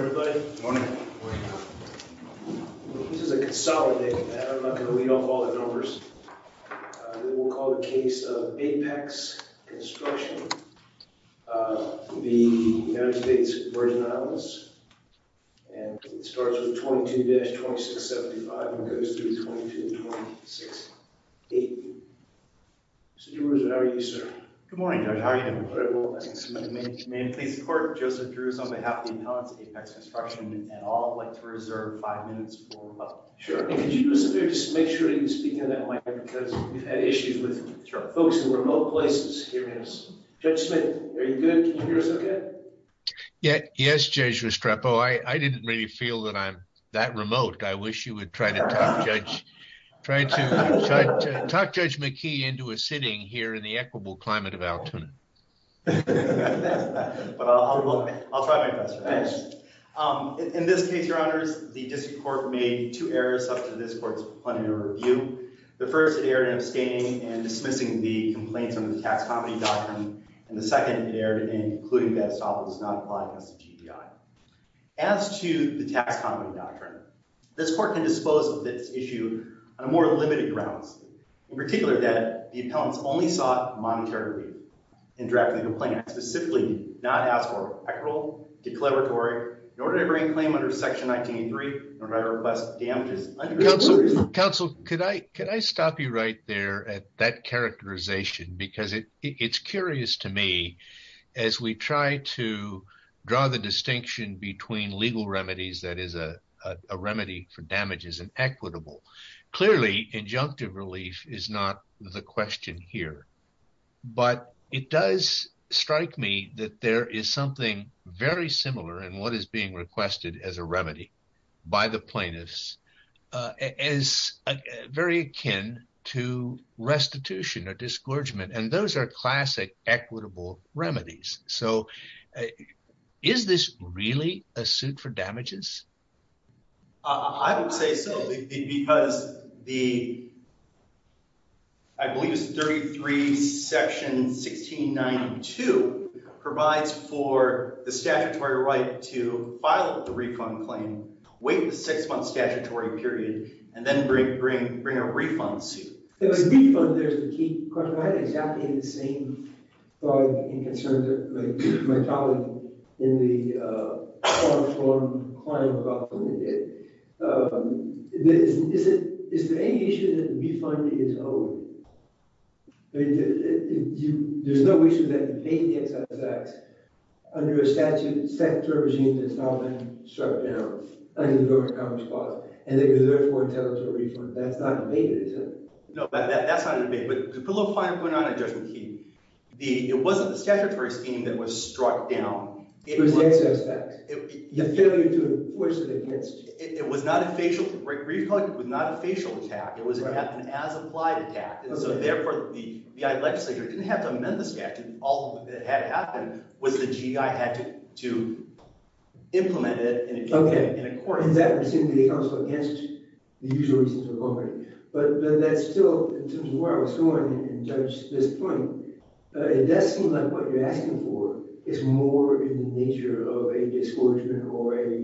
Good morning, everybody. Good morning. Good morning. This is a consolidated matter. I'm not going to read off all the numbers. We will call it a case of Apex Construction of the United States Virgin Islands. And it starts with 22-2675 and goes through 22-2680. Mr. Drewers, how are you, sir? Good morning, Judge. How are you doing? All right. Well, I think somebody may need to make a comment. Good morning. Good morning. Good morning. Good morning. Good morning. Good morning. Good morning. Good morning. Good morning. Good morning. Good morning. Good morning. This is Judge Restrepo for Apex Construction. And I'd like to reserve five minutes for discussion. Sure. Could you make sure you speak into the microphone. Because we've had issues with folks in remote places. Judge Smith, are you good? I didn't really feel I'm remote. Try to talk Judge McKee into a sitting here in the equitable climate. I'll try my best. In this case, your honors, the district court made two errors up to this court's plenary review. The first, it erred in abstaining and dismissing the complaints under the tax comedy doctrine. And the second, it erred in concluding that estoppel does not apply against the GPI. As to the tax comedy doctrine, this court can dispose of this issue on a more limited grounds. In particular, that the appellants only sought monetary relief in drafting the complaint, and specifically, not ask for equitable declaratory in order to bring claim under section 1983, in order to request damages. Counsel, could I stop you right there at that characterization? Because it's curious to me, as we try to draw the distinction between legal remedies, that is a remedy for damages and equitable. Clearly, injunctive relief is not the question here. But it does strike me that there is something very similar in what is being requested as a remedy by the plaintiffs, as very akin to restitution or disgorgement. And those are classic equitable remedies. So is this really a suit for damages? I would say so. Because the, I believe it's 33 section 1692, provides for the statutory right to file the refund claim, wait the six-month statutory period, and then bring a refund suit. If a refund, there's the key question. I had exactly the same thought and concern that my colleague in the farm-to-farm claim about the women did. Is there any issue that the refund is owed? There's no issue that you pay the excess tax under a statutory regime that's not been struck down under the Government Coverage Clause. And they deserve more territory for it. That's not in the debate, is it? No, that's not in the debate. But to put a little fine point on it, Judge McKee, it wasn't the statutory scheme that was struck down. It was excess tax. The failure to enforce it against you. It was not a facial, recall it was not a facial attack. It was an as-applied attack. And so therefore, the legislature didn't have to amend the statute. All that had happened was the GI had to implement it in accordance. And that was simply against the usual reasons of authority. But that's still, in terms of where I was going, and Judge, this point, it does seem like what you're asking for is more in the nature of a disgorgement or a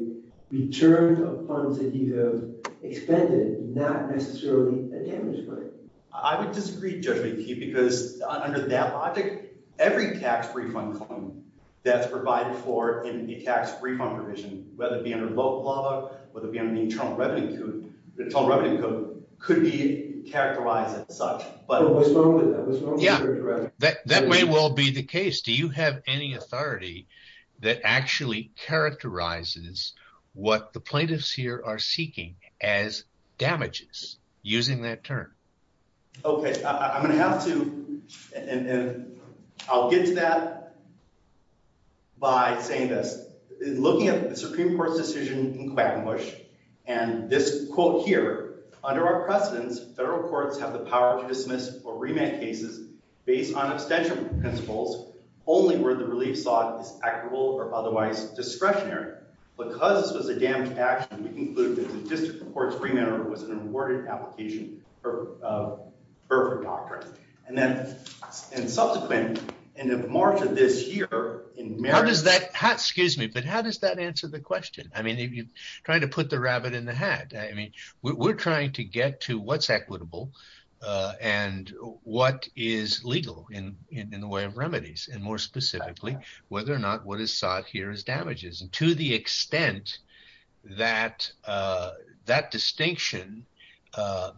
return of funds that you have expended, not necessarily a damaged money. I would disagree, Judge McKee, because under that logic, every tax refund claim that's been invoked, whether it be under the Internal Revenue Code, could be characterized as such. But what's wrong with that? Yeah, that may well be the case. Do you have any authority that actually characterizes what the plaintiffs here are seeking as damages using that term? Okay, I'm going to have to, and I'll get to that by saying this. In looking at the Supreme Court's decision in Quackenbush, and this quote here, under our precedents, federal courts have the power to dismiss or remand cases based on abstention principles only where the relief slot is equitable or otherwise discretionary. Because this was a damaged action, we conclude that the district court's remand was an awarded application for Burford doctrine. Subsequent, in March of this year… How does that answer the question? I mean, you're trying to put the rabbit in the hat. We're trying to get to what's equitable and what is legal in the way of remedies, and more specifically, whether or not what is sought here is damages. And to the extent that that distinction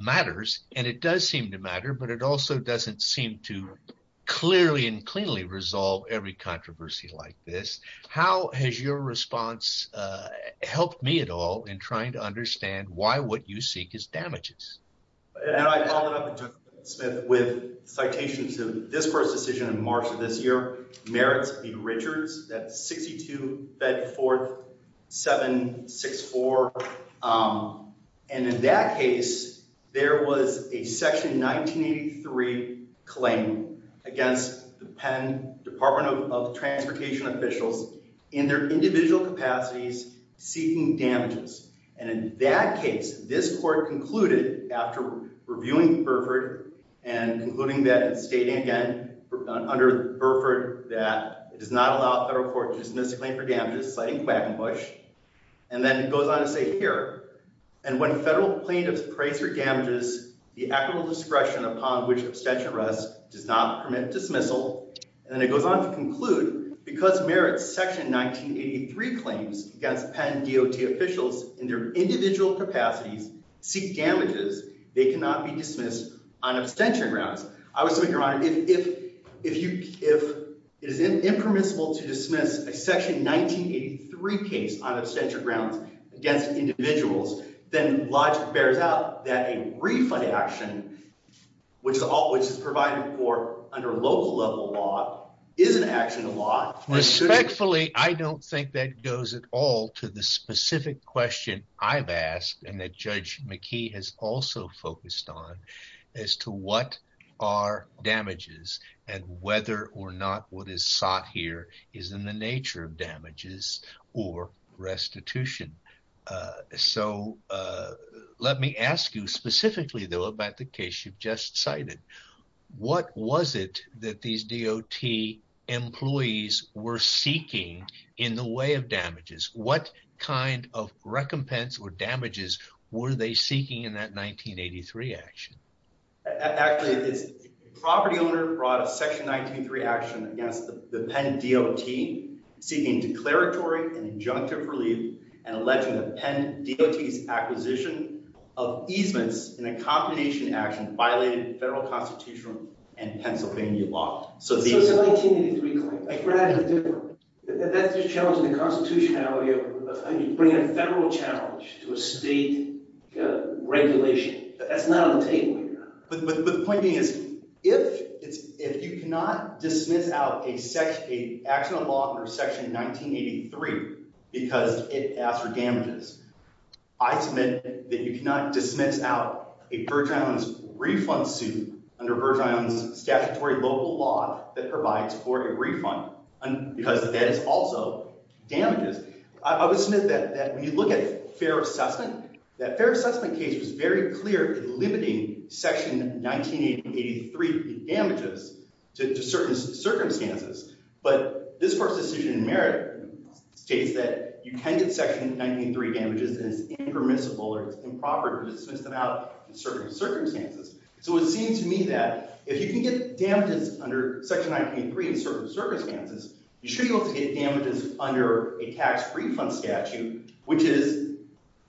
matters, and it does seem to matter, but it also doesn't seem to clearly and cleanly resolve every controversy like this, how has your response helped me at all in trying to understand why what you seek is damages? And I followed up with Justice Smith with citations of this court's decision in March of this year merits B. Richards, that's 62 Bedford 764. And in that case, there was a Section 1983 claim against the Penn Department of Transportation officials in their individual capacities seeking damages. And in that case, this court concluded after reviewing Burford and concluding that, and stating again under Burford that it does not allow federal court to dismiss a claim for damages, citing Quackenbush, and then it goes on to say here, and when federal plaintiffs praise for damages, the equitable discretion upon which abstention rests does not permit dismissal. And it goes on to conclude, because merits Section 1983 claims against Penn DOT officials in their individual capacities seek damages, they cannot be dismissed on abstention grounds. I would submit, Your Honor, if it is impermissible to dismiss a Section 1983 case on abstention grounds against individuals, then logic bears out that a refund action, which is provided for under local level law, is an action of law. Respectfully, I don't think that goes at all to the specific question I've asked and that Judge McKee has also focused on as to what are damages and whether or not what is sought here is in the nature of damages or restitution. So let me ask you specifically, though, about the case you've just cited. What was it that these DOT employees were seeking in the way of damages? What kind of recompense or damages were they seeking in that 1983 action? Actually, the property owner brought a Section 1983 action against the Penn DOT seeking declaratory and injunctive relief and alleging that Penn DOT's acquisition of easements in a combination action violated federal constitutional and Pennsylvania law. So the 1983 claim, that's what I had to do. That's just challenging the constitutionality of bringing a federal challenge to a state regulation. That's not on the table here. But the point being is if you cannot dismiss out an action of law under Section 1983 because it asks for damages, I submit that you cannot dismiss out a Burge Islands refund suit under Burge Islands statutory local law that provides for a refund because that is also damages. I would submit that when you look at fair assessment, that fair assessment case was very clear in limiting Section 1983 damages to certain circumstances. But this court's decision in merit states that you can get Section 1983 damages and it's impermissible or improper to dismiss them out in certain circumstances. So it seems to me that if you can get damages under Section 1983 in certain circumstances, you should be able to get damages under a tax refund statute, which is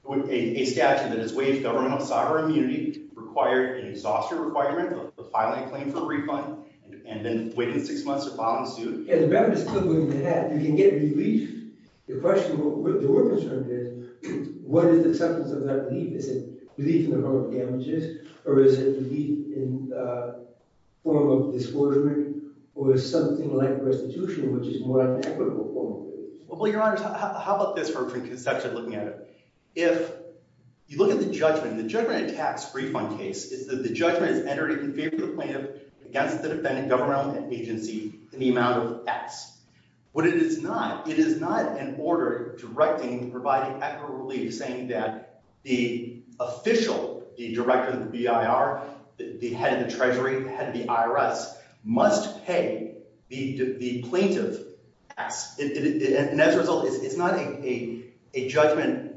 a statute that is waived governmental sovereign immunity, required an exhaustive requirement to file a claim for a refund, and then wait six months to file a suit. As a matter of discipline, you can get relief. The question, what we're concerned is, what is the substance of that relief? Is it relief in the form of damages? Or is it relief in the form of dischargement? Or is something like restitution, which is more of an equitable form of relief? Well, Your Honor, how about this from a preconception looking at it? If you look at the judgment, the judgment in a tax refund case is that the judgment is entered in favor of the plaintiff against the defendant, government, and agency in the amount of X. But it is not. It is not an order directing, providing equitable relief, saying that the official, the director of the BIR, the head of the Treasury, the head of the IRS, must pay the plaintiff X. And as a result, it's not a judgment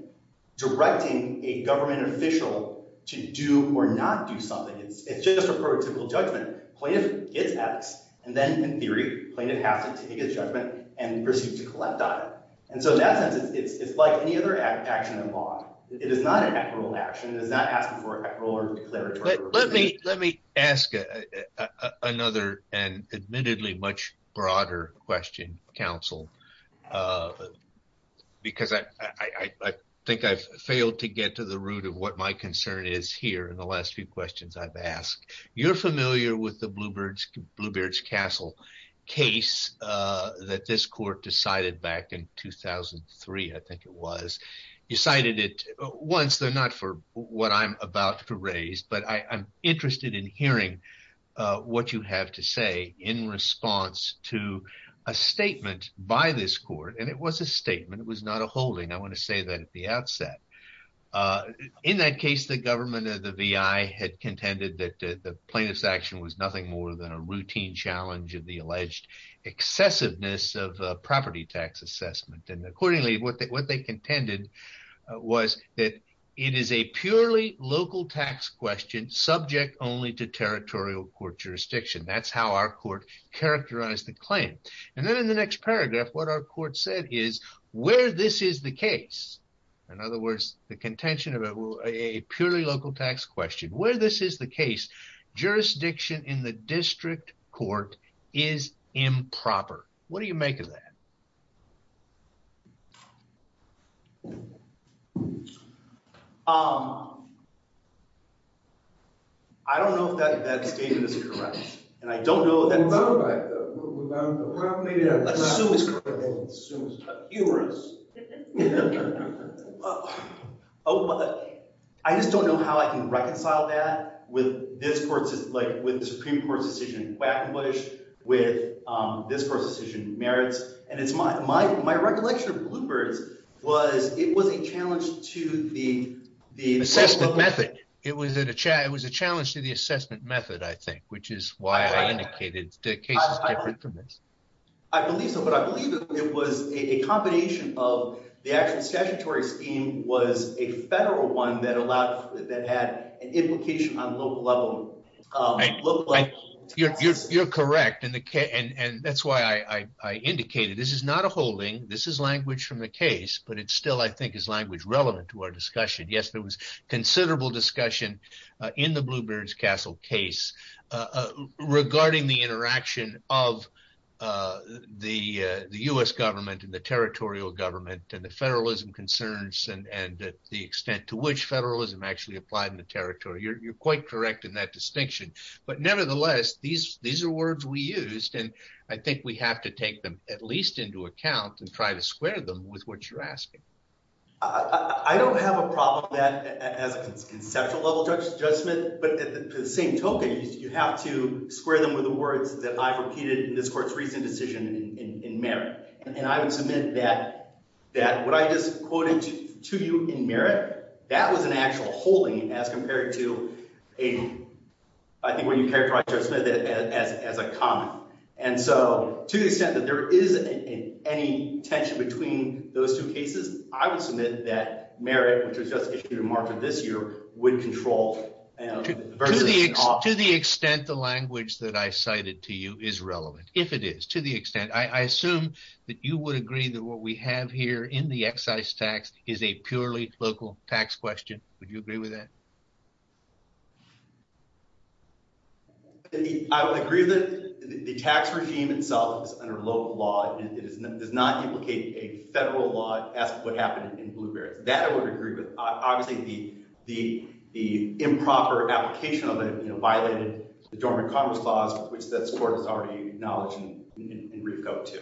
directing a government official to do or not do something. It's just a prototypical judgment. Plaintiff gets X, and then in theory, plaintiff has to take a judgment and proceeds to collect on it. And so in that sense, it's like any other action in law. It is not an equitable action. It is not asking for equitable or declaratory relief. Let me ask another and admittedly much broader question, counsel, because I think I've failed to get to the root of what my concern is here in the last few questions I've asked. You're familiar with the Bluebirds Castle case that this court decided back in 2003, I think it was. You cited it once, though not for what I'm about to raise, but I'm interested in hearing what you have to say in response to a statement by this court, and it was a statement. It was not a holding. I want to say that at the outset. In that case, the government of the VI had contended that the plaintiff's action was nothing more than a routine challenge of the alleged excessiveness of property tax assessment. And accordingly, what they contended was that it is a purely local tax question subject only to territorial court jurisdiction. That's how our court characterized the claim. And then in the next paragraph, what our court said is where this is the case. In other words, the contention of a purely local tax question. Where this is the case, jurisdiction in the district court is improper. What do you make of that? I don't know if that statement is correct, and I don't know if that's correct. Assume it's correct. Humorous. I just don't know how I can reconcile that with the Supreme Court's decision in Quackenbush, with this court's decision in Merrits. And my recollection of Bluebirds was it was a challenge to the assessment method. It was a challenge to the assessment method, I think, which is why I indicated the case is different from this. I believe so. But I believe it was a combination of the actual statutory scheme was a federal one that had an implication on local level. You're correct. And that's why I indicated this is not a holding. This is language from the case. But it still, I think, is language relevant to our discussion. Yes, there was considerable discussion in the Bluebirds Castle case. Regarding the interaction of the U.S. government and the territorial government and the federalism concerns and the extent to which federalism actually applied in the territory. You're quite correct in that distinction. But nevertheless, these are words we used, and I think we have to take them at least into account and try to square them with what you're asking. I don't have a problem with that as a conceptual level judgment. But to the same token, you have to square them with the words that I've repeated in this court's recent decision in merit. And I would submit that what I just quoted to you in merit, that was an actual holding as compared to a, I think, what you characterized, Judge Smith, as a common. And so to the extent that there is any tension between those two cases, I would submit that merit, which was just issued in March of this year, would control. To the extent the language that I cited to you is relevant, if it is, to the extent, I assume that you would agree that what we have here in the excise tax is a purely local tax question. Would you agree with that? I would agree that the tax regime itself is under local law. It does not implicate a federal law as to what happened in Bluebirds. That I would agree with. Obviously, the improper application of it violated the Dormant Commerce Clause, which this court has already acknowledged in Reef Code 2.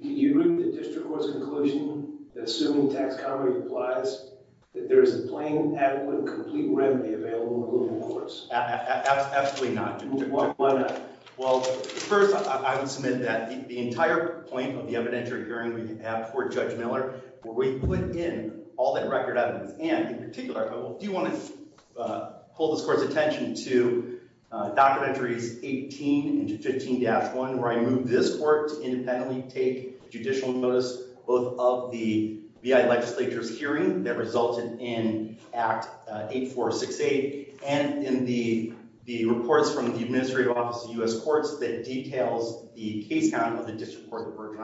Can you root the district court's conclusion, assuming tax coverage applies, that there is a plain, adequate, complete remedy available in Bluebirds? Absolutely not. Why not? Well, first, I would submit that the entire point of the evidentiary hearing we have before Judge Miller, where we put in all that record evidence and, in particular, I do want to pull this court's attention to Documentaries 18 and 15-1, where I move this court to independently take judicial notice, both of the BI legislature's hearing that resulted in Act 8468 and in the reports from the administrative office of U.S. Courts that details the case count of the District Court of Virgin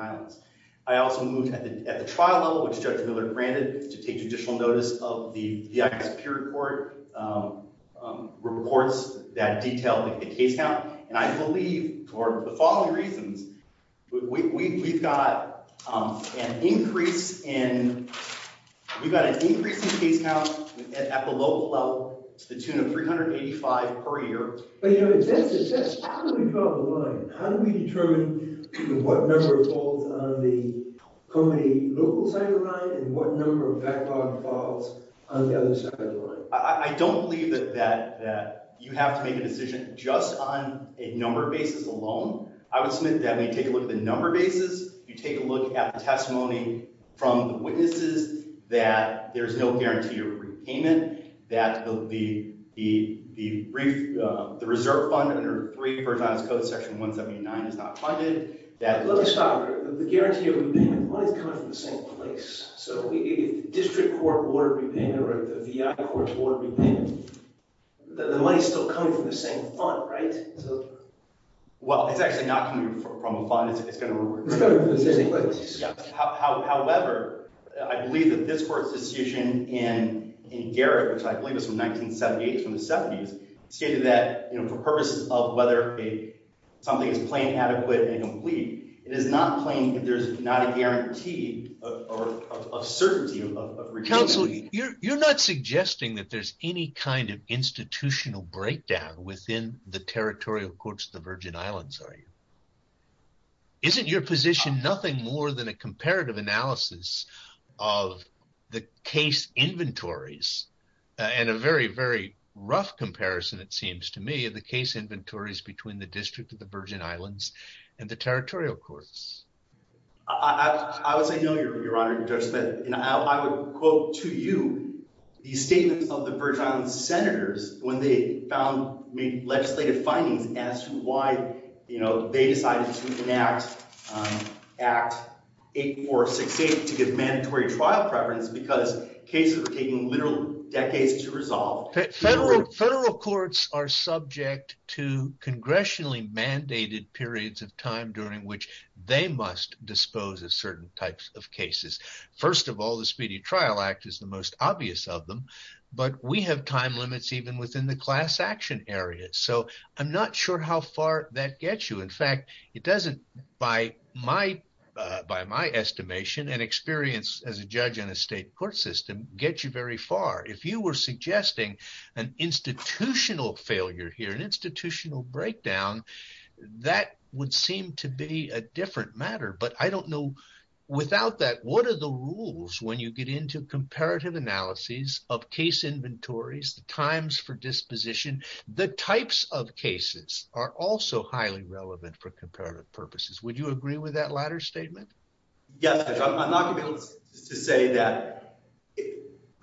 I also moved at the trial level, which Judge Miller granted, to take judicial notice of the BI Superior Court reports that detail the case count. And I believe for the following reasons. We've got an increase in case counts at the local level to the tune of 385 per year. But how do we draw the line? How do we determine what number falls on the company local side of the line and what number of backlogged falls on the other side of the line? I don't believe that you have to make a decision just on a number of bases alone. I would submit that when you take a look at the number of bases, you take a look at the testimony from the witnesses, that there's no guarantee of repayment, that the reserve fund under 3 Virgin I's Code Section 179 is not funded. Let me stop here. The guarantee of repayment, the money's coming from the same place. So if the District Court ordered repayment or the VI Court ordered repayment, the money's still coming from the same fund, right? Well, it's actually not coming from a fund. It's coming from the same place. However, I believe that this Court's decision in Garrett, which I believe is from 1978, is from the 70s, stated that for purposes of whether something is plain, adequate, and complete, it is not plain that there's not a guarantee of certainty of repayment. Counsel, you're not suggesting that there's any kind of institutional breakdown within the territorial courts of the Virgin Islands, are you? Isn't your position nothing more than a comparative analysis of the case inventories, and a very, very rough comparison, it seems to me, of the case inventories between the District of the Virgin Islands and the territorial courts? I would say no, Your Honor, Judge Smith. I would quote to you the statements of the Virgin Islands Senators when they found legislative findings as to why they decided to enact Act 8468 to give mandatory trial preference because cases were taking literal decades to resolve. Federal courts are subject to congressionally mandated periods of time during which they must dispose of certain types of cases. First of all, the Speedy Trial Act is the most obvious of them, but we have time limits even within the class action area. So I'm not sure how far that gets you. In fact, it doesn't, by my estimation and experience as a judge in a state court system, get you very far. If you were suggesting an institutional failure here, an institutional breakdown, that would seem to be a different matter. But I don't know, without that, what are the rules when you get into comparative analyses of case inventories, the times for disposition, the types of cases are also highly relevant for comparative purposes. Would you agree with that latter statement? Yes, Judge. I'm not going to be able to say that.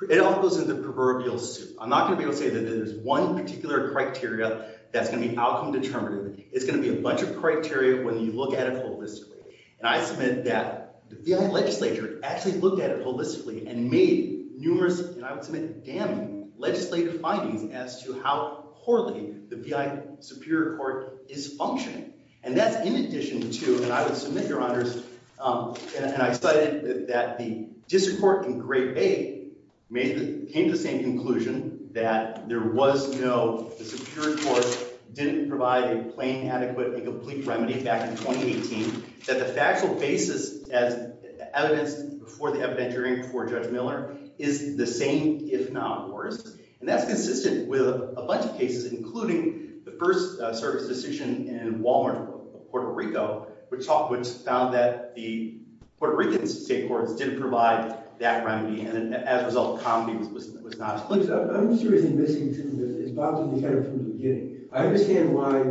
It all goes into proverbial soup. I'm not going to be able to say that there's one particular criteria that's going to be outcome determinative. It's going to be a bunch of criteria when you look at it holistically. And I submit that the legislature actually looked at it holistically and made numerous, and I would submit damning, legislative findings as to how poorly the V.I. Superior Court is functioning. And that's in addition to, and I would submit, Your Honors, and I cited that the district court in Great Bay came to the same conclusion that there was no, the Superior Court didn't provide a plain, adequate, and complete remedy back in 2018, that the factual basis as evidenced before the evidentiary before Judge Miller is the same, if not worse. And that's consistent with a bunch of cases, including the first service decision in Walmart, Puerto Rico, which found that the Puerto Rican state courts didn't provide that remedy, and as a result, comedy was not as clear. I'm seriously missing something that is about to be added from the beginning. I understand why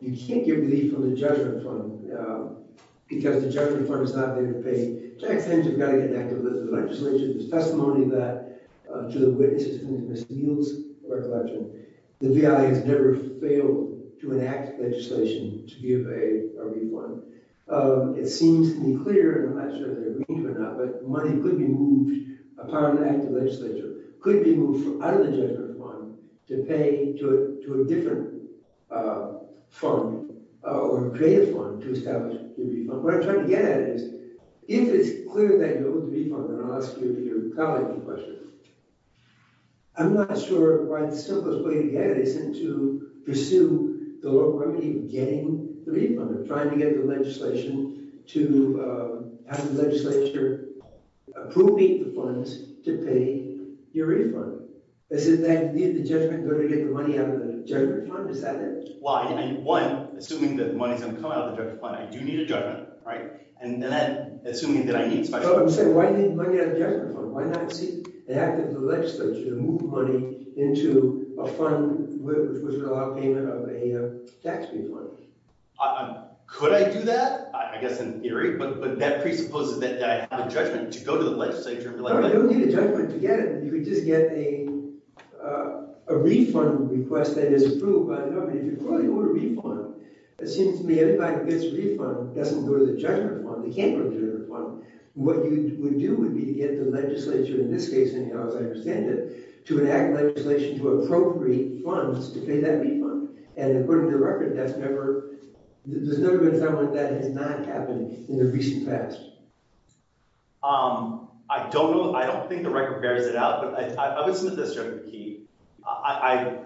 you can't get relief from the judgment fund because the judgment fund is not there to pay. Jack Sands has got to get back to the legislature. There's testimony that, to the witnesses and to Ms. Eels of our collection, the V.I. has never failed to enact legislation to give a refund. It seems to be clear, and I'm not sure they're agreeing to it or not, but money could be moved upon an act of legislature, could be moved out of the judgment fund to pay to a different fund or a greater fund to establish a refund. What I'm trying to get at is, if it's clear they move the refund, and I'll ask you or your colleague a question, I'm not sure why the simplest way to get it isn't to pursue the remedy of getting the refund. They're trying to get the legislation to have the legislature approving the funds to pay your refund. Is it that you need the judgment to go to get the money out of the judgment fund? Is that it? Well, one, assuming that money is going to come out of the judgment fund, I do need a judgment, right? And then assuming that I need it. But you say, why do you need money out of the judgment fund? Why not see the act of the legislature to move money into a fund which would allow payment of a tax refund? Could I do that? I guess in theory. But that presupposes that I have a judgment to go to the legislature. No, you don't need a judgment to get it. You could just get a refund request that is approved. Well, no, but if you're going to get a refund, it seems to me everybody that gets a refund doesn't go to the judgment fund. They can't go to the judgment fund. What you would do would be to get the legislature, in this case, anyhow as I understand it, to enact legislation to appropriate funds to pay that refund. And according to the record, that's never – there's never been something like that that has not happened in the recent past. I don't know. I don't think the record bears it out. I would submit this, Judge McKee.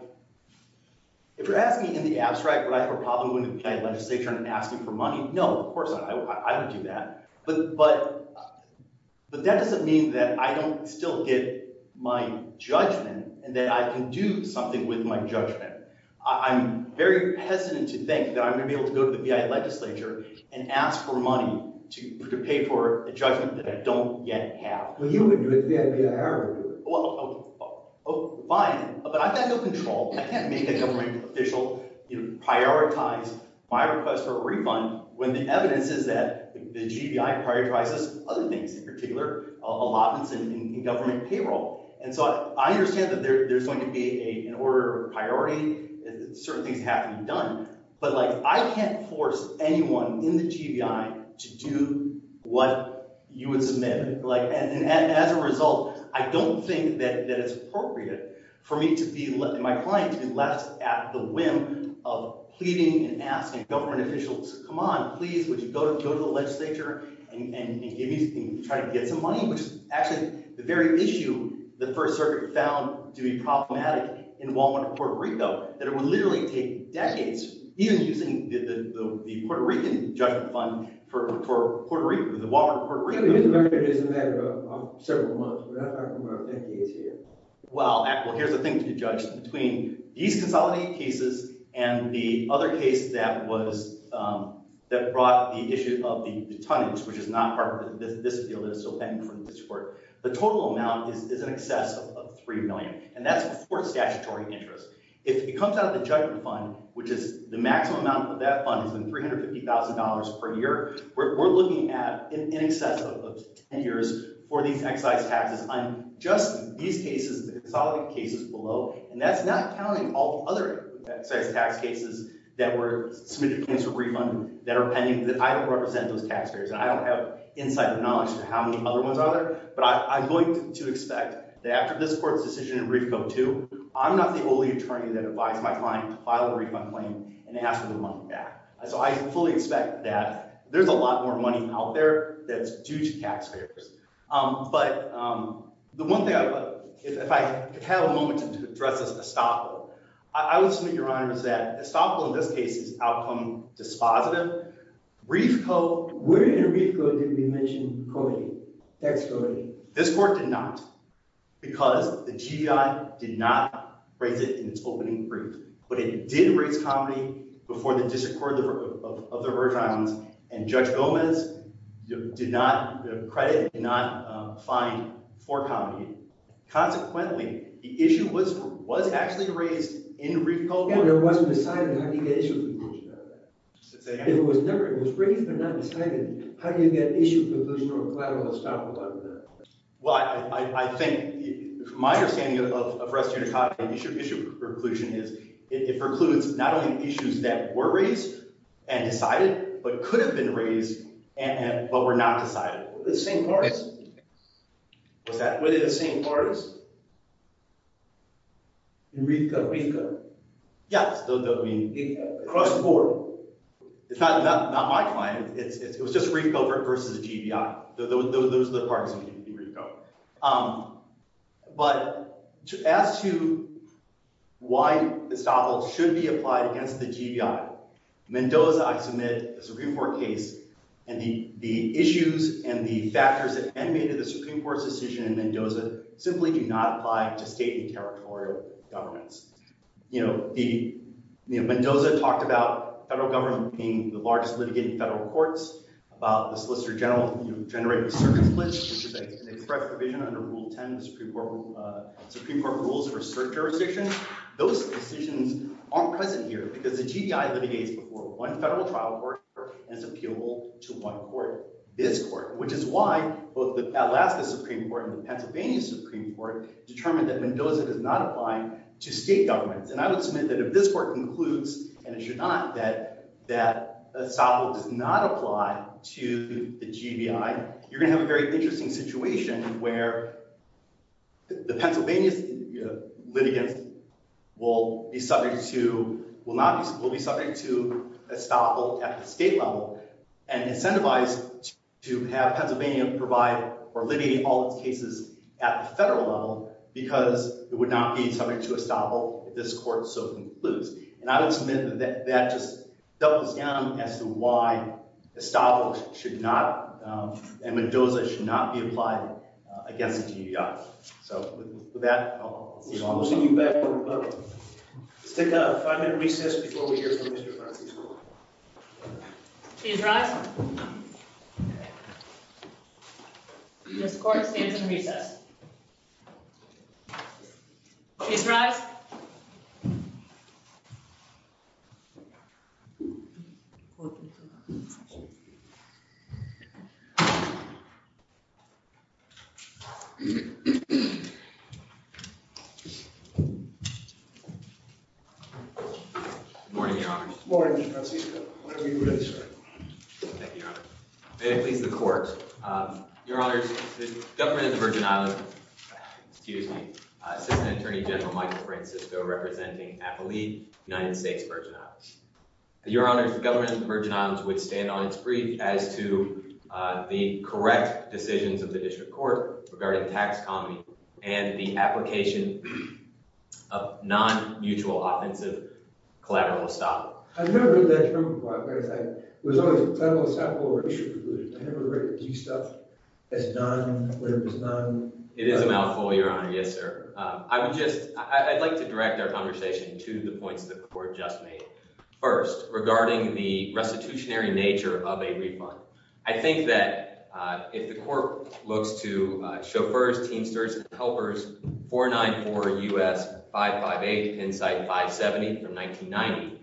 If you're asking in the abstract would I have a problem going to the legislature and asking for money, no, of course not. I don't do that. But that doesn't mean that I don't still get my judgment and that I can do something with my judgment. I'm very hesitant to think that I'm going to be able to go to the legislature and ask for money to pay for a judgment that I don't yet have. Well, you wouldn't do it. The FBI would do it. Well, fine. But I've got no control. I can't make a government official prioritize my request for a refund when the evidence is that the GBI prioritizes other things in particular, allotments in government payroll. And so I understand that there's going to be an order of priority. Certain things have to be done. But, like, I can't force anyone in the GBI to do what you would submit. And as a result, I don't think that it's appropriate for me and my client to be left at the whim of pleading and asking government officials, come on, please, would you go to the legislature and try to get some money, which is actually the very issue the First Circuit found to be problematic in Walmart, Puerto Rico, that it would literally take decades, even using the Puerto Rican judgment fund for Puerto Rico, the Walmart of Puerto Rico. It is a matter of several months. I don't know how many decades here. Well, here's the thing to be judged. Between these consolidated cases and the other case that brought the issue of the tonnage, which is not part of this deal that is still pending from this court, the total amount is in excess of $3 million. And that's before statutory interest. If it comes out of the judgment fund, which is the maximum amount of that fund has been $350,000 per year, we're looking at in excess of 10 years for these excise taxes on just these cases, the consolidated cases below. And that's not counting all the other excise tax cases that were submitted for refund that are pending, that I don't represent those taxpayers, and I don't have insight or knowledge of how many other ones are there. But I'm going to expect that after this court's decision in brief code 2, I'm not the only attorney that advised my client to file a tax return. So I fully expect that. There's a lot more money out there that's due to taxpayers. But the one thing I would like, if I could have a moment to address this Estoppo. I would submit, Your Honor, is that Estoppo in this case is outcome dispositive. Reef code. Where in Reef code did we mention coding, tax coding? This court did not. Because the GDI did not raise it in its opening brief. But it did raise comedy before the disaccord of the Verge Islands. And Judge Gomez did not, credit did not find for comedy. Consequently, the issue was actually raised in Reef code. Yeah, but it wasn't decided how do you get issue preclusion out of that? If it was raised but not decided, how do you get issue preclusion or collateral Estoppo out of that? Well, I think, from my understanding of rest unit copy, issue preclusion is it precludes not only issues that were raised and decided but could have been raised but were not decided. Were they the same parties? Were they the same parties? In Reef code? Yes. Across the board. It's not my client. It was just Reef code versus GDI. Those are the parties in Reef code. But as to why Estoppo should be applied against the GDI, Mendoza submitted a Supreme Court case, and the issues and the factors that animated the Supreme Court's decision in Mendoza simply do not apply to state and territorial governments. You know, Mendoza talked about federal government being the largest litigator in federal courts, about the Solicitor General generating circuit splits, which is an express provision under Rule 10 of the Supreme Court rules for cert jurisdictions. Those decisions aren't present here because the GDI litigates before one federal trial court and is appealable to one court, this court, which is why both the Alaska Supreme Court and the Pennsylvania Supreme Court determined that Mendoza does not apply to state governments, and I would submit that if this court concludes, and it should not, that Estoppo does not apply to the GDI, you're going to have a very interesting situation where the Pennsylvania litigants will be subject to Estoppo at the state level and incentivize to have Pennsylvania provide or litigate all its cases at the federal level because it would not be subject to Estoppo if this court so concludes. And I would submit that that just doubles down as to why Estoppo should not, and Mendoza should not be applied against the GDI. So with that, I'll see you all in the morning. Let's take a five-minute recess before we hear from Mr. Francis. Please rise. This court stands in recess. Please rise. Good morning, Your Honor. Good morning, Mr. Francisco. Whenever you're ready, sir. Thank you, Your Honor. May it please the court. Your Honor, the government of the Virgin Islands, excuse me, Assistant Attorney General Michael Francisco representing AFL-E, United States Virgin Islands. Your Honor, the government of the Virgin Islands would stand on its brief as to the correct decisions of the district court regarding tax economy and the application of non-mutual offensive collateral Estoppo. I've never heard that term before. It was always collateral Estoppo ratio. I've never heard Estoppo as none, where it was none. It is a mouthful, Your Honor. Yes, sir. I would just, I'd like to direct our conversation to the points the court just made. First, regarding the restitutionary nature of a refund. I think that if the court looks to chauffeurs, teamsters, helpers, 494 U.S. 558, Pennside 570 from 1990,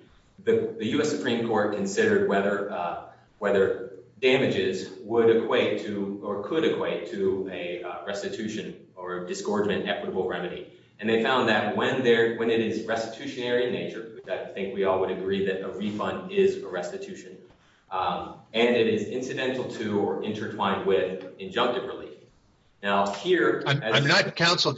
the U.S. Supreme Court considered whether damages would equate to or could equate to a restitution or a disgorgement equitable remedy. And they found that when it is restitutionary in nature, which I think we all would agree that a refund is a restitution, and it is incidental to or intertwined with injunctive relief. Now, here- I'm not, counsel,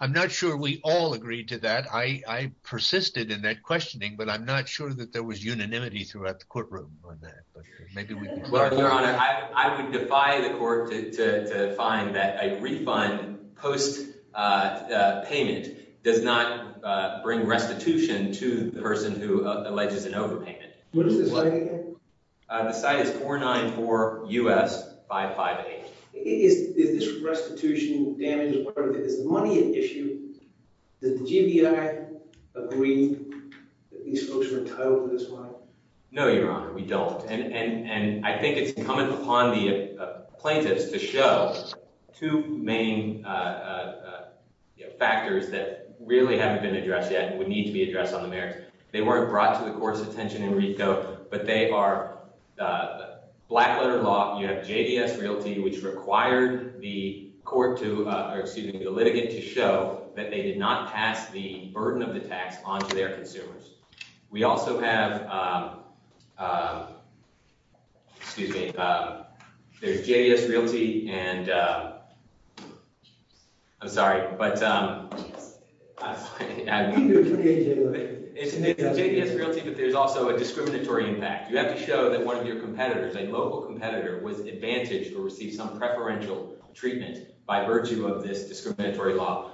I'm not sure we all agree to that. I persisted in that questioning, but I'm not sure that there was unanimity throughout the courtroom on that. Well, Your Honor, I would defy the court to find that a refund post payment does not bring restitution to the person who alleges an overpayment. What is the site again? The site is 494 U.S. 558. Is this restitution damage, is money an issue? Does the JBI agree that these folks are entitled to this money? No, Your Honor, we don't. And I think it's incumbent upon the plaintiffs to show two main factors that really haven't been addressed yet and would need to be addressed on the merits. They weren't brought to the court's attention in RICO, but they are black letter law. You have JBS Realty, which required the court to, or excuse me, the litigant to show that they did not pass the burden of the tax onto their consumers. We also have, excuse me, there's JBS Realty and I'm sorry, but it's JBS Realty, but there's also a discriminatory impact. You have to show that one of your competitors, a local competitor was advantaged or received some preferential treatment by virtue of this discriminatory law.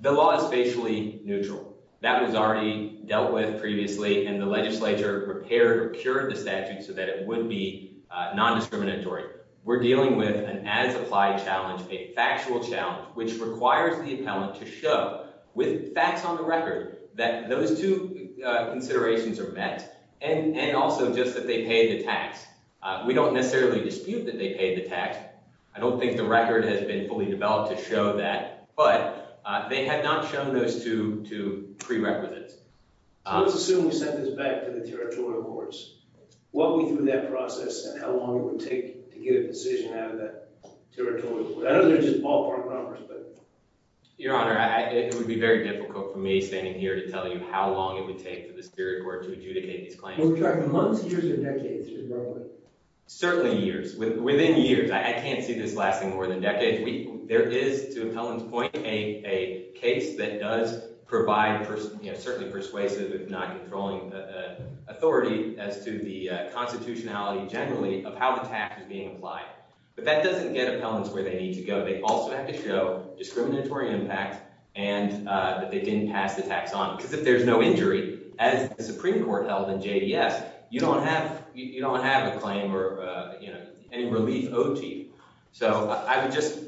The law is facially neutral. That was already dealt with previously and the legislature prepared, cured the statute so that it would be a non-discriminatory. We're dealing with an as applied challenge, a factual challenge, which requires the appellant to show with facts on the record, that those two considerations are met. And also just that they paid the tax. We don't necessarily dispute that they paid the tax. I don't think the record has been fully developed to show that, but they had not shown those two prerequisites. So let's assume we sent this back to the territorial courts. What we do in that process and how long it would take to get a decision out of that territorial court. I know they're just ballpark numbers, but. Your Honor, it would be very difficult for me standing here to tell you how long it would take to get these claims. We're talking months, years, or decades? Certainly years. Within years. I can't see this lasting more than decades. There is, to appellant's point, a case that does provide certainly persuasive if not controlling authority as to the constitutionality generally of how the tax is being applied. But that doesn't get appellants where they need to go. They also have to show discriminatory impact and that they didn't pass the tax on. Because if there's no injury, as the Supreme Court held in JDS, you don't have a claim or any relief owed to you. So I would just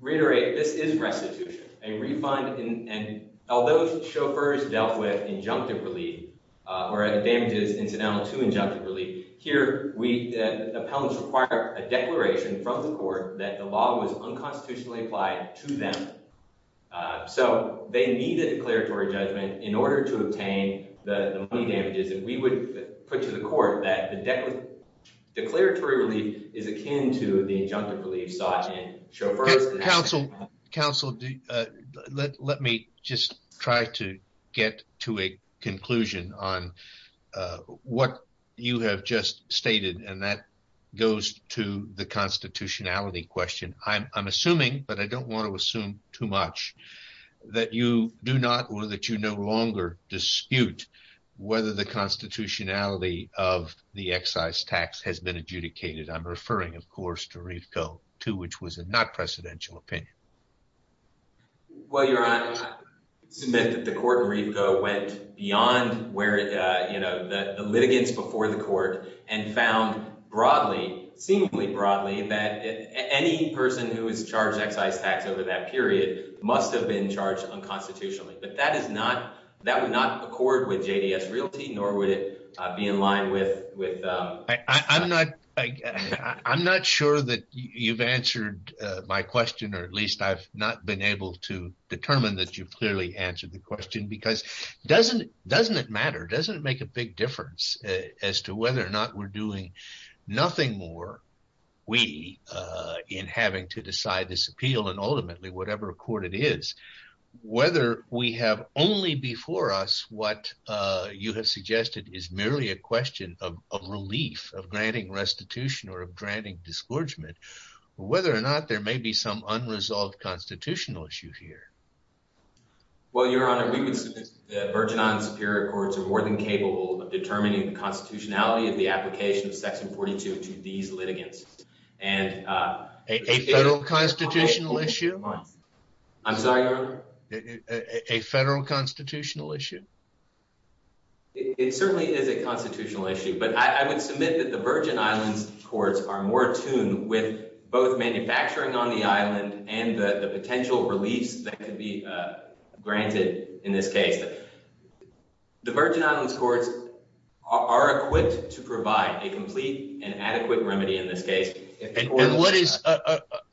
reiterate, this is restitution. A refund, and although chauffeurs dealt with injunctive relief, or damages incidental to injunctive relief, here appellants require a declaration from the court that the law was unconstitutionally applied to them. So they needed a declaratory judgment in order to obtain the damages that we would put to the court that the declaratory relief is akin to the injunctive relief sought in chauffeurs. Counsel, let me just try to get to a conclusion on what you have just stated, and that goes to the constitutionality question. I'm assuming, but I don't want to assume too much, that you do not or that you no longer dispute whether the constitutionality of the excise tax has been adjudicated. I'm referring, of course, to Reefco, too, which was a not precedential opinion. Well, Your Honor, I submit that the court in Reefco went beyond where, you know, the litigants before the court and found broadly, seemingly broadly, that any person who is charged excise tax over that period must have been charged unconstitutionally. But that would not accord with JDS realty, nor would it be in line with- I'm not sure that you've answered my question, or at least I've not been able to determine that you've clearly answered the question, because doesn't it matter? Doesn't it make a big difference as to whether or not we're doing nothing more, we, in having to decide this appeal, and ultimately whatever court it is, whether we have only before us, what you have suggested is merely a question of relief, of granting restitution or of granting disgorgement, whether or not there may be some unresolved constitutional issue here. Well, Your Honor, we would submit that the Virgin Island Superior Courts are more than capable of granting restitution to these litigants. A federal constitutional issue? I'm sorry, Your Honor? A federal constitutional issue. It certainly is a constitutional issue, but I would submit that the Virgin Islands Courts are more attuned with both manufacturing on the island and the potential reliefs that could be granted in this case. The Virgin Islands Courts are equipped to provide a complete and accurate remedy in this case.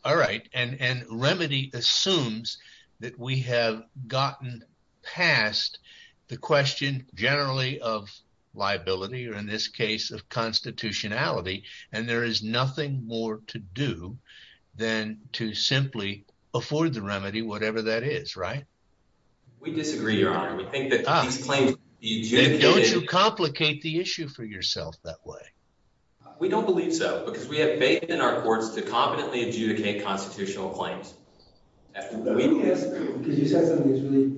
All right, and remedy assumes that we have gotten past the question generally of liability, or in this case of constitutionality, and there is nothing more to do than to simply afford the remedy, whatever that is, right? We disagree, Your Honor. We think that these claims... Then don't you complicate the issue for yourself that way? We don't believe so, because we have faith in our courts to competently adjudicate constitutional claims. Let me ask, because you said something that's really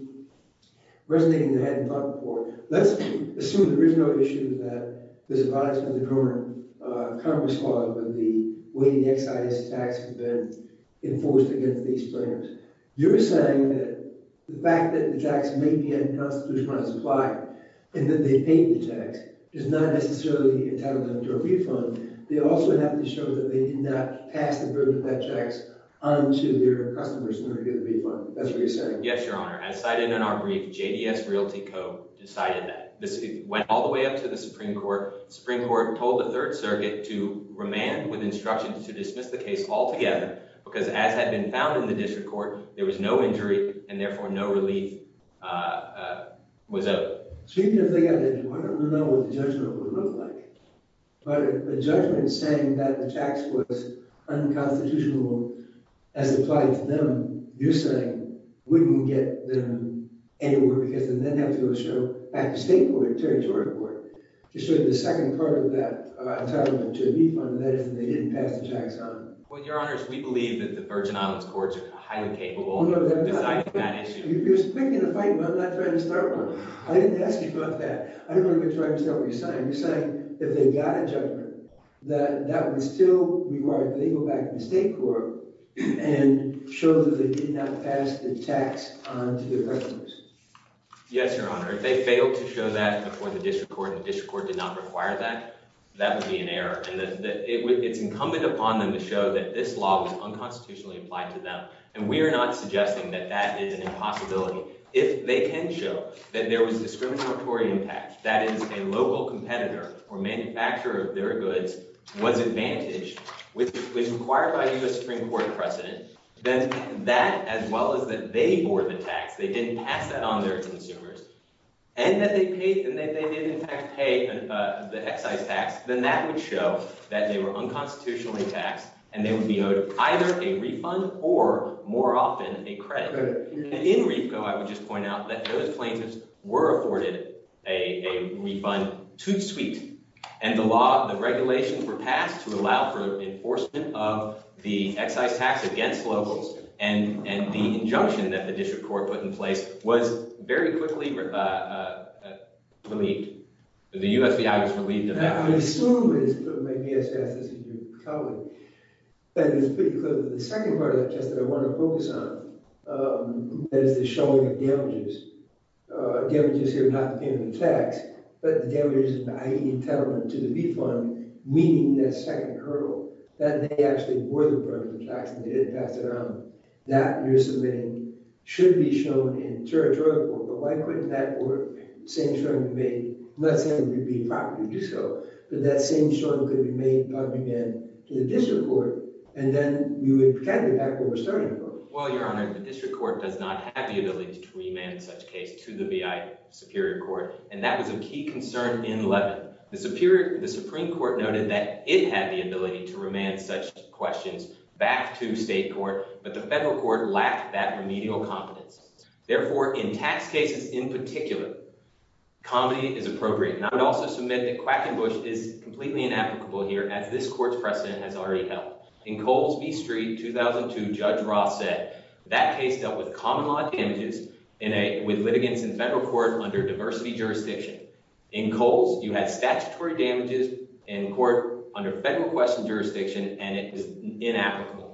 resonating that I hadn't thought before. Let's assume the original issue that was advised by the Congress Clause would be the way the excise tax had been enforced against these plaintiffs. You're saying that the fact that the tax may be unconstitutional in its and that they paid the tax is not necessarily entitlement to a refund. They also have to show that they did not pass the burden of that tax onto their customers in order to get a refund. That's what you're saying? Yes, Your Honor. As cited in our brief, JDS Realty Co. decided that. This went all the way up to the Supreme Court. The Supreme Court told the Third Circuit to remand with instructions to dismiss the case altogether, because as had been found in the District Court, there was no injury and therefore no relief was owed. So you're going to figure out that you want to know what the judgment would look like. But if the judgment is saying that the tax was unconstitutional as applied to them, you're saying wouldn't get them anywhere because then they'd have to go show back to State Court or Territory Court to show the second part of that entitlement to a refund that if they didn't pass the tax on. Well, Your Honor, we believe that the Virgin Islands Courts are highly capable of deciding that issue. You're picking a fight, but I'm not trying to start one. I didn't ask you about that. I don't want to try to start what you're saying. You're saying if they got a judgment that that would still require that they go back to the State Court and show that they did not pass the tax onto their customers. Yes, Your Honor. If they failed to show that before the District Court and the District Court did not require that, that would be an error. It's incumbent upon them to show that this law was unconstitutionally applied to them, and we are not suggesting that that is an impossibility. If they can show that there was discriminatory impact, that is, a local competitor or manufacturer of their goods was advantaged, which was required by U.S. Supreme Court precedent, then that as well as that they bore the tax, they didn't pass that on to their consumers, and that they did, in fact, pay the excise tax, then that would show that they were unconstitutionally taxed, and they would be owed either a refund or, more often, a credit. And in Repco, I would just point out that those plaintiffs were afforded a refund to suite, and the law, the regulations were passed to allow for enforcement of the excise tax against locals, and the injunction that the U.S. Supreme Court issued, the U.S. FBI was relieved of that. I assume it's put maybe as fast as you probably, but it's pretty clear that the second part of that test that I want to focus on is the showing of damages, damages here not depending on the tax, but the damages by entitlement to the refund, meaning that second hurdle, that they actually bore the burden of tax and didn't pass it on, that you're submitting should be shown in territorial court, but why couldn't that court, same sort of debate, let's say it would be proper to do so, but that same sort of debate could be made public again to the district court, and then you would get back to what we're starting from. Well, Your Honor, the district court does not have the ability to remand such case to the B.I. Superior Court, and that was a key concern in Levin. The Supreme Court noted that it had the ability to remand such questions back to state court, but the federal court lacked that remedial competence. Therefore, in tax cases in particular, comedy is appropriate. And I would also submit that Quackenbush is completely inapplicable here as this court's precedent has already held. In Coles v. Street, 2002, Judge Ross said that case dealt with common law damages with litigants in federal court under diversity jurisdiction. In Coles, you had statutory damages in court under federal question jurisdiction, and it was inapplicable.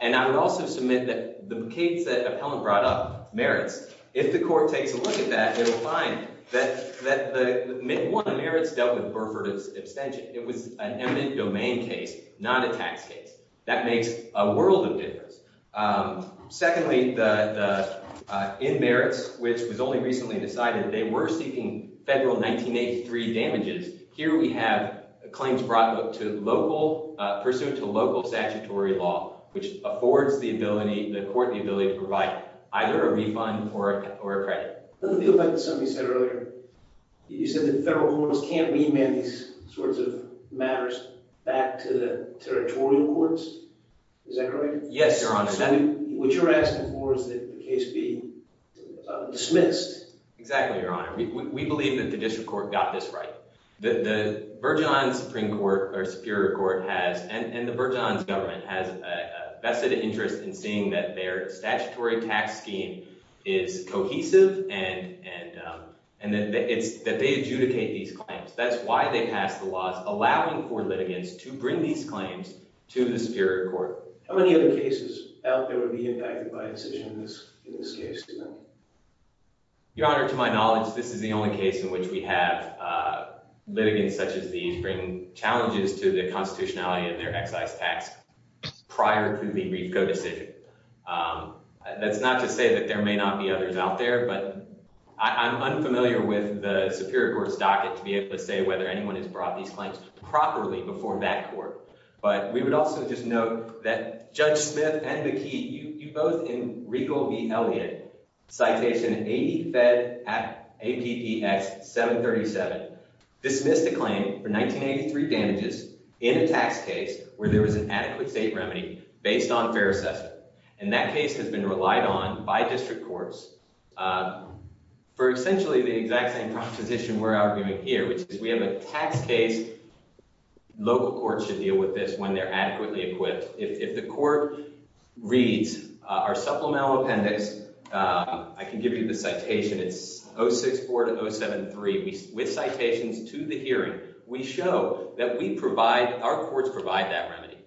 And I would also submit that the case that Appellant brought up, Merits, if the court takes a look at that, it will find that one, Merits dealt with Burford's abstention. It was an eminent domain case, not a tax case. That makes a world of difference. Secondly, in Merits, which was only recently decided, they were seeking federal 1983 damages. Here we have claims brought to local, pursuant to local statutory law, which affords the court the ability to provide either a refund or a credit. Let me go back to something you said earlier. You said that federal courts can't remand these sorts of matters back to the territorial courts. Is that correct? Yes, Your Honor. What you're asking for is that the case be dismissed. Exactly, Your Honor. We believe that the district court got this right. The Virgin Islands Supreme Court or Superior Court has, and the Virgin Islands government, has a vested interest in seeing that their statutory tax scheme is cohesive and that they adjudicate these claims. That's why they passed the laws allowing for litigants to bring these claims to the Superior Court. How many other cases out there would be impacted by a decision in this case? Your Honor, to my knowledge, this is the only case in which we have litigants such as these bring challenges to the constitutionality of their excise tax prior to the Reefco decision. That's not to say that there may not be others out there, but I'm unfamiliar with the Superior Court's docket to be able to say whether anyone has brought these claims properly before that court. But we would also just note that Judge Smith and McKee, you both in Regal v. Elliot, Citation 80-Fed-APPX-737, dismissed a claim for 1983 damages in a tax case where there was an adequate state remedy based on fair assessment. And that case has been relied on by district courts for essentially the exact same proposition we're arguing here, which is we have a tax case. Local courts should deal with this when they're adequately equipped. If the court reads our supplemental appendix, I can give you the citation. It's 064-073. With citations to the hearing, we show that we provide, our courts provide that remedy.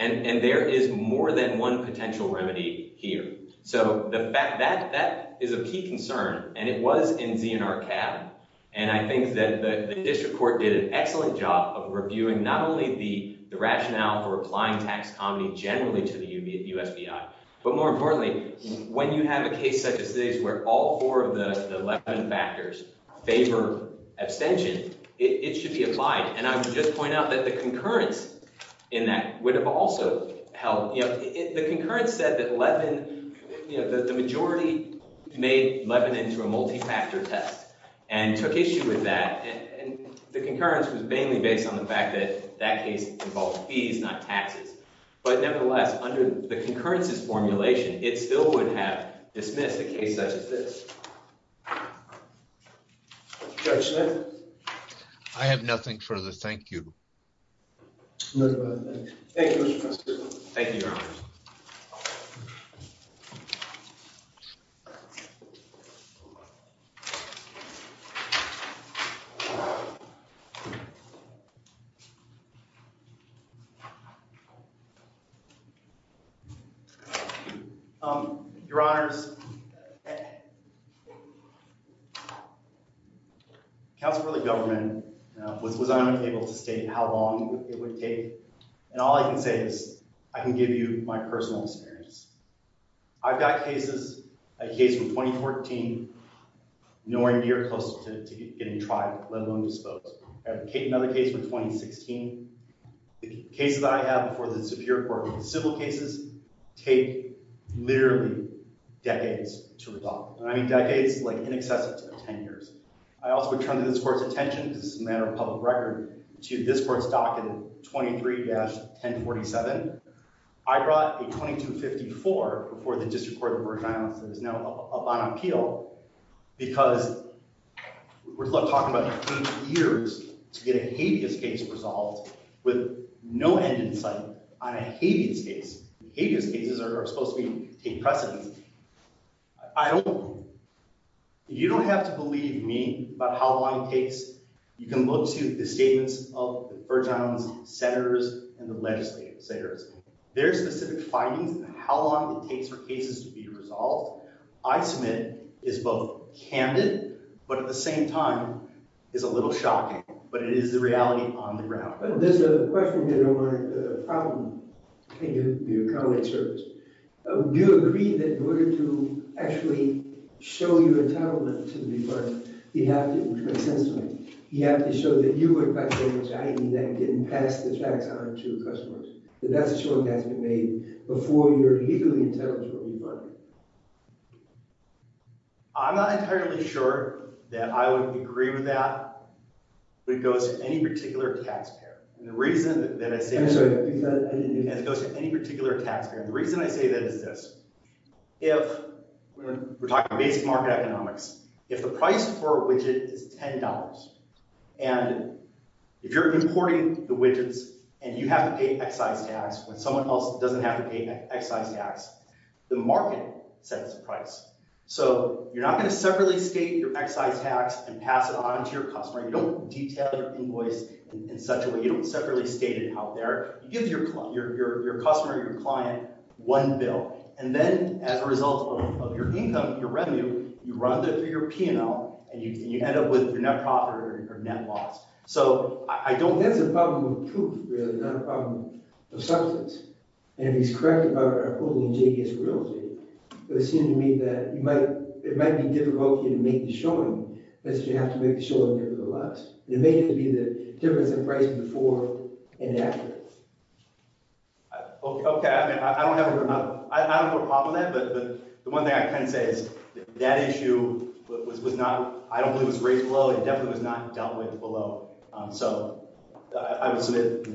And there is more than one potential remedy here. So the fact that that is a key concern, and it was in ZNRCAB, and I think that the district court did an excellent job of reviewing not only the rationale for applying tax comedy generally to the USBI, but more importantly, when you have a case such as this where all four of the 11 factors favor abstention, it should be applied. And I would just point out that the concurrence in that would have also helped. The concurrence said that 11, you know, that the majority made 11 into a multi-factor test and took issue with that. And the concurrence was mainly based on the fact that that case involved fees, not taxes. But nevertheless, under the concurrence's formulation, it still would have dismissed a case such as this. Judge Smith? I have nothing further. Thank you. Thank you, Mr. Professor. Thank you, Your Honor. Thank you. Your Honors, counsel for the government was unable to state how long it would take. And all I can say is I can give you my personal experience. I've got cases, a case from 2014, nowhere near close to getting tried, let alone disposed. I have another case from 2016. The cases that I have before the Superior Court with civil cases take literally decades to resolve. And I mean decades, like in excess of 10 years. I also would turn to this Court's attention, this is a matter of public record, to this Court's docket 23-1047. I brought a 2254 before the District Court of Virgin Islands that is now up on appeal because we're talking about taking years to get a habeas case resolved with no end in sight on a habeas case. Habeas cases are supposed to take precedence. You don't have to believe me about how long it takes. You can look to the statements of the Virgin Islands Senators and the legislators. Their specific findings, how long it takes for cases to be resolved, I submit is both candid, but at the same time is a little shocking. But it is the reality on the ground. There's a question here about a problem. Thank you for your comment, sir. Do you agree that in order to actually show your entitlement to the department, you have to be consensual. You have to show that you look like a giant that didn't pass the tax on to customers. That that's a short estimate made before you're legally entitled to a new department. I'm not entirely sure that I would agree with that, but it goes to any particular taxpayer. I'm sorry. It goes to any particular taxpayer. The reason I say that is this. We're talking basic market economics. If the price for a widget is $10, and if you're importing the widgets and you have to pay excise tax when someone else doesn't have to pay excise tax, the market sets the price. So you're not going to separately state your excise tax and pass it on to your customer. You don't detail your invoice in such a way. You don't separately state it out there. You give your customer, your client, one bill, and then as a result of your income, your revenue, you run that through your P&L, and you end up with your net profit or net loss. So I don't think... That's a problem of proof, really, not a problem of substance. And if he's correct about our pooling in JBS Realty, it would seem to me that it might be difficult for you to make the showing unless you have to make the showing here for the last. And it may have to be the difference in price before and after. Okay. I mean, I don't have a problem with that, but the one thing I can say is that issue was not... I don't believe it was raised below. It definitely was not dealt with below. So I would submit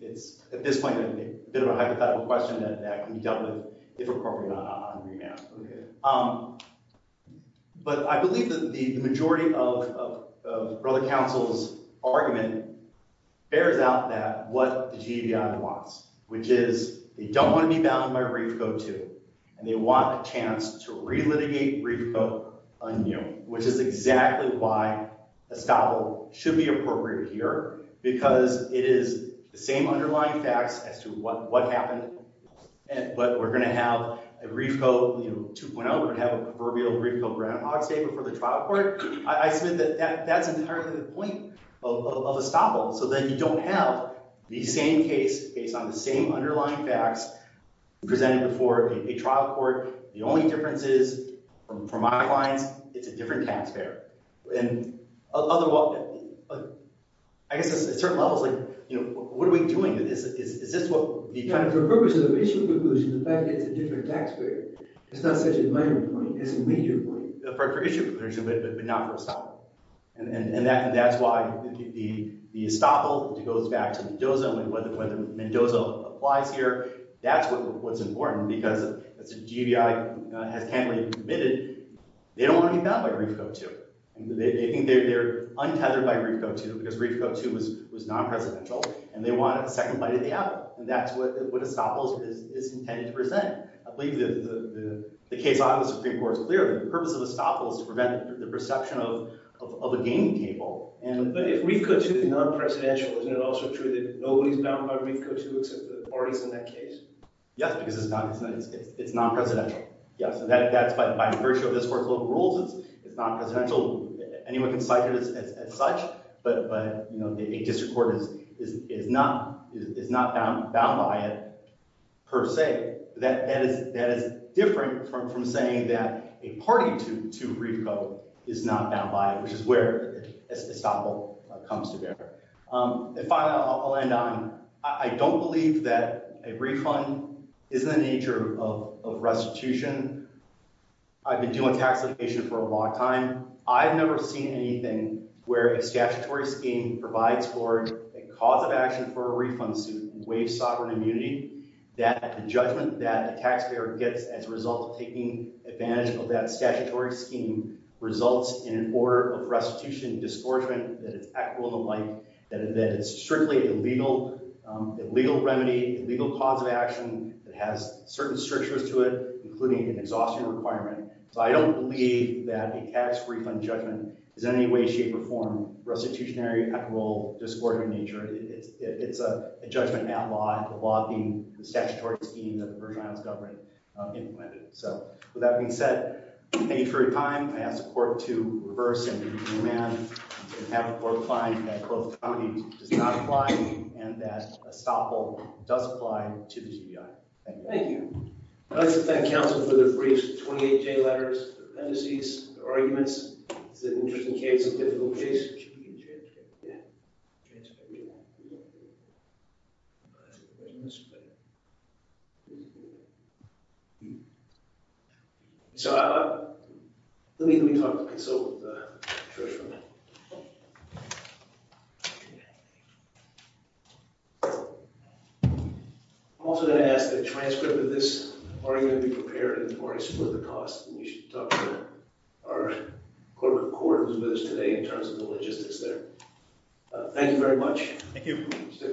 it's, at this point, a bit of a hypothetical question that can be dealt with if appropriate on remand. Okay. But I believe that the majority of Brother Counsel's argument bears out that what the GBI wants, which is they don't want to be bound by a rate of go-to, and they want a chance to re-litigate Reefcoe anew, which is exactly why estoppel should be appropriate here, because it is the same underlying facts as to what happened. But we're going to have a Reefcoe 2.0. We're going to have a proverbial Reefcoe groundhog statement for the trial court. I submit that that's entirely the point of estoppel, so that you don't have the same case based on the same underlying facts presented for a trial court. The only difference is, from my lines, it's a different tax payer. And I guess at certain levels, what are we doing? Is this what the kind of— Yeah, for purposes of issue conclusion, the fact that it's a different tax payer, it's not such a minor point. It's a major point. For issue conclusion, but not for estoppel. And that's why the estoppel goes back to Mendoza. Whether Mendoza applies here, that's what's important. Because as GBI has candidly admitted, they don't want to be bound by Reefcoe 2.0. They think they're untethered by Reefcoe 2.0 because Reefcoe 2.0 was non-presidential, and they want a second bite of the apple. And that's what estoppel is intended to present. I believe the case on the Supreme Court is clear. The purpose of estoppel is to prevent the perception of a gaming table. But if Reefcoe 2.0 is non-presidential, isn't it also true that nobody's bound by Reefcoe 2.0 except the parties in that case? Yes, because it's non-presidential. Yes, and that's by virtue of this court's local rules. It's non-presidential. Anyone can cite it as such. But a district court is not bound by it per se. That is different from saying that a party to Reefcoe is not bound by it, which is where estoppel comes to bear. And finally, I'll end on, I don't believe that a refund is in the nature of restitution. I've been doing tax litigation for a long time. I've never seen anything where a statutory scheme provides for a cause of action for a refund suit and waives sovereign immunity that the judgment that the taxpayer gets as a result of taking advantage of that statutory scheme results in an order of restitution and disgorgement that is equitable to life, that it's strictly a legal remedy, a legal cause of action that has certain strictures to it, including an exhaustion requirement. So I don't believe that a tax refund judgment is in any way, shape, or form restitutionary, equitable, or disgorgement in nature. It's a judgment-bound law, the law being the statutory scheme that the Virgin Islands government implemented. So with that being said, thank you for your time. I ask the court to reverse and move the amendment and have the court find that Closed Committee does not apply and that estoppel does apply to the TBI. Thank you. I'd like to thank counsel for the briefs, the 28J letters, the appendices, the arguments. It's an interesting case, a difficult case. Should we get a transcript? Yeah. Transcript. We won't. We won't. There's no transcript. So let me talk to counsel with the transcript. I'm also going to ask that a transcript of this are you going to be prepared and are you split the costs? And we should talk to our corporate court who's with us today in terms of the logistics there. Thank you very much. Thank you.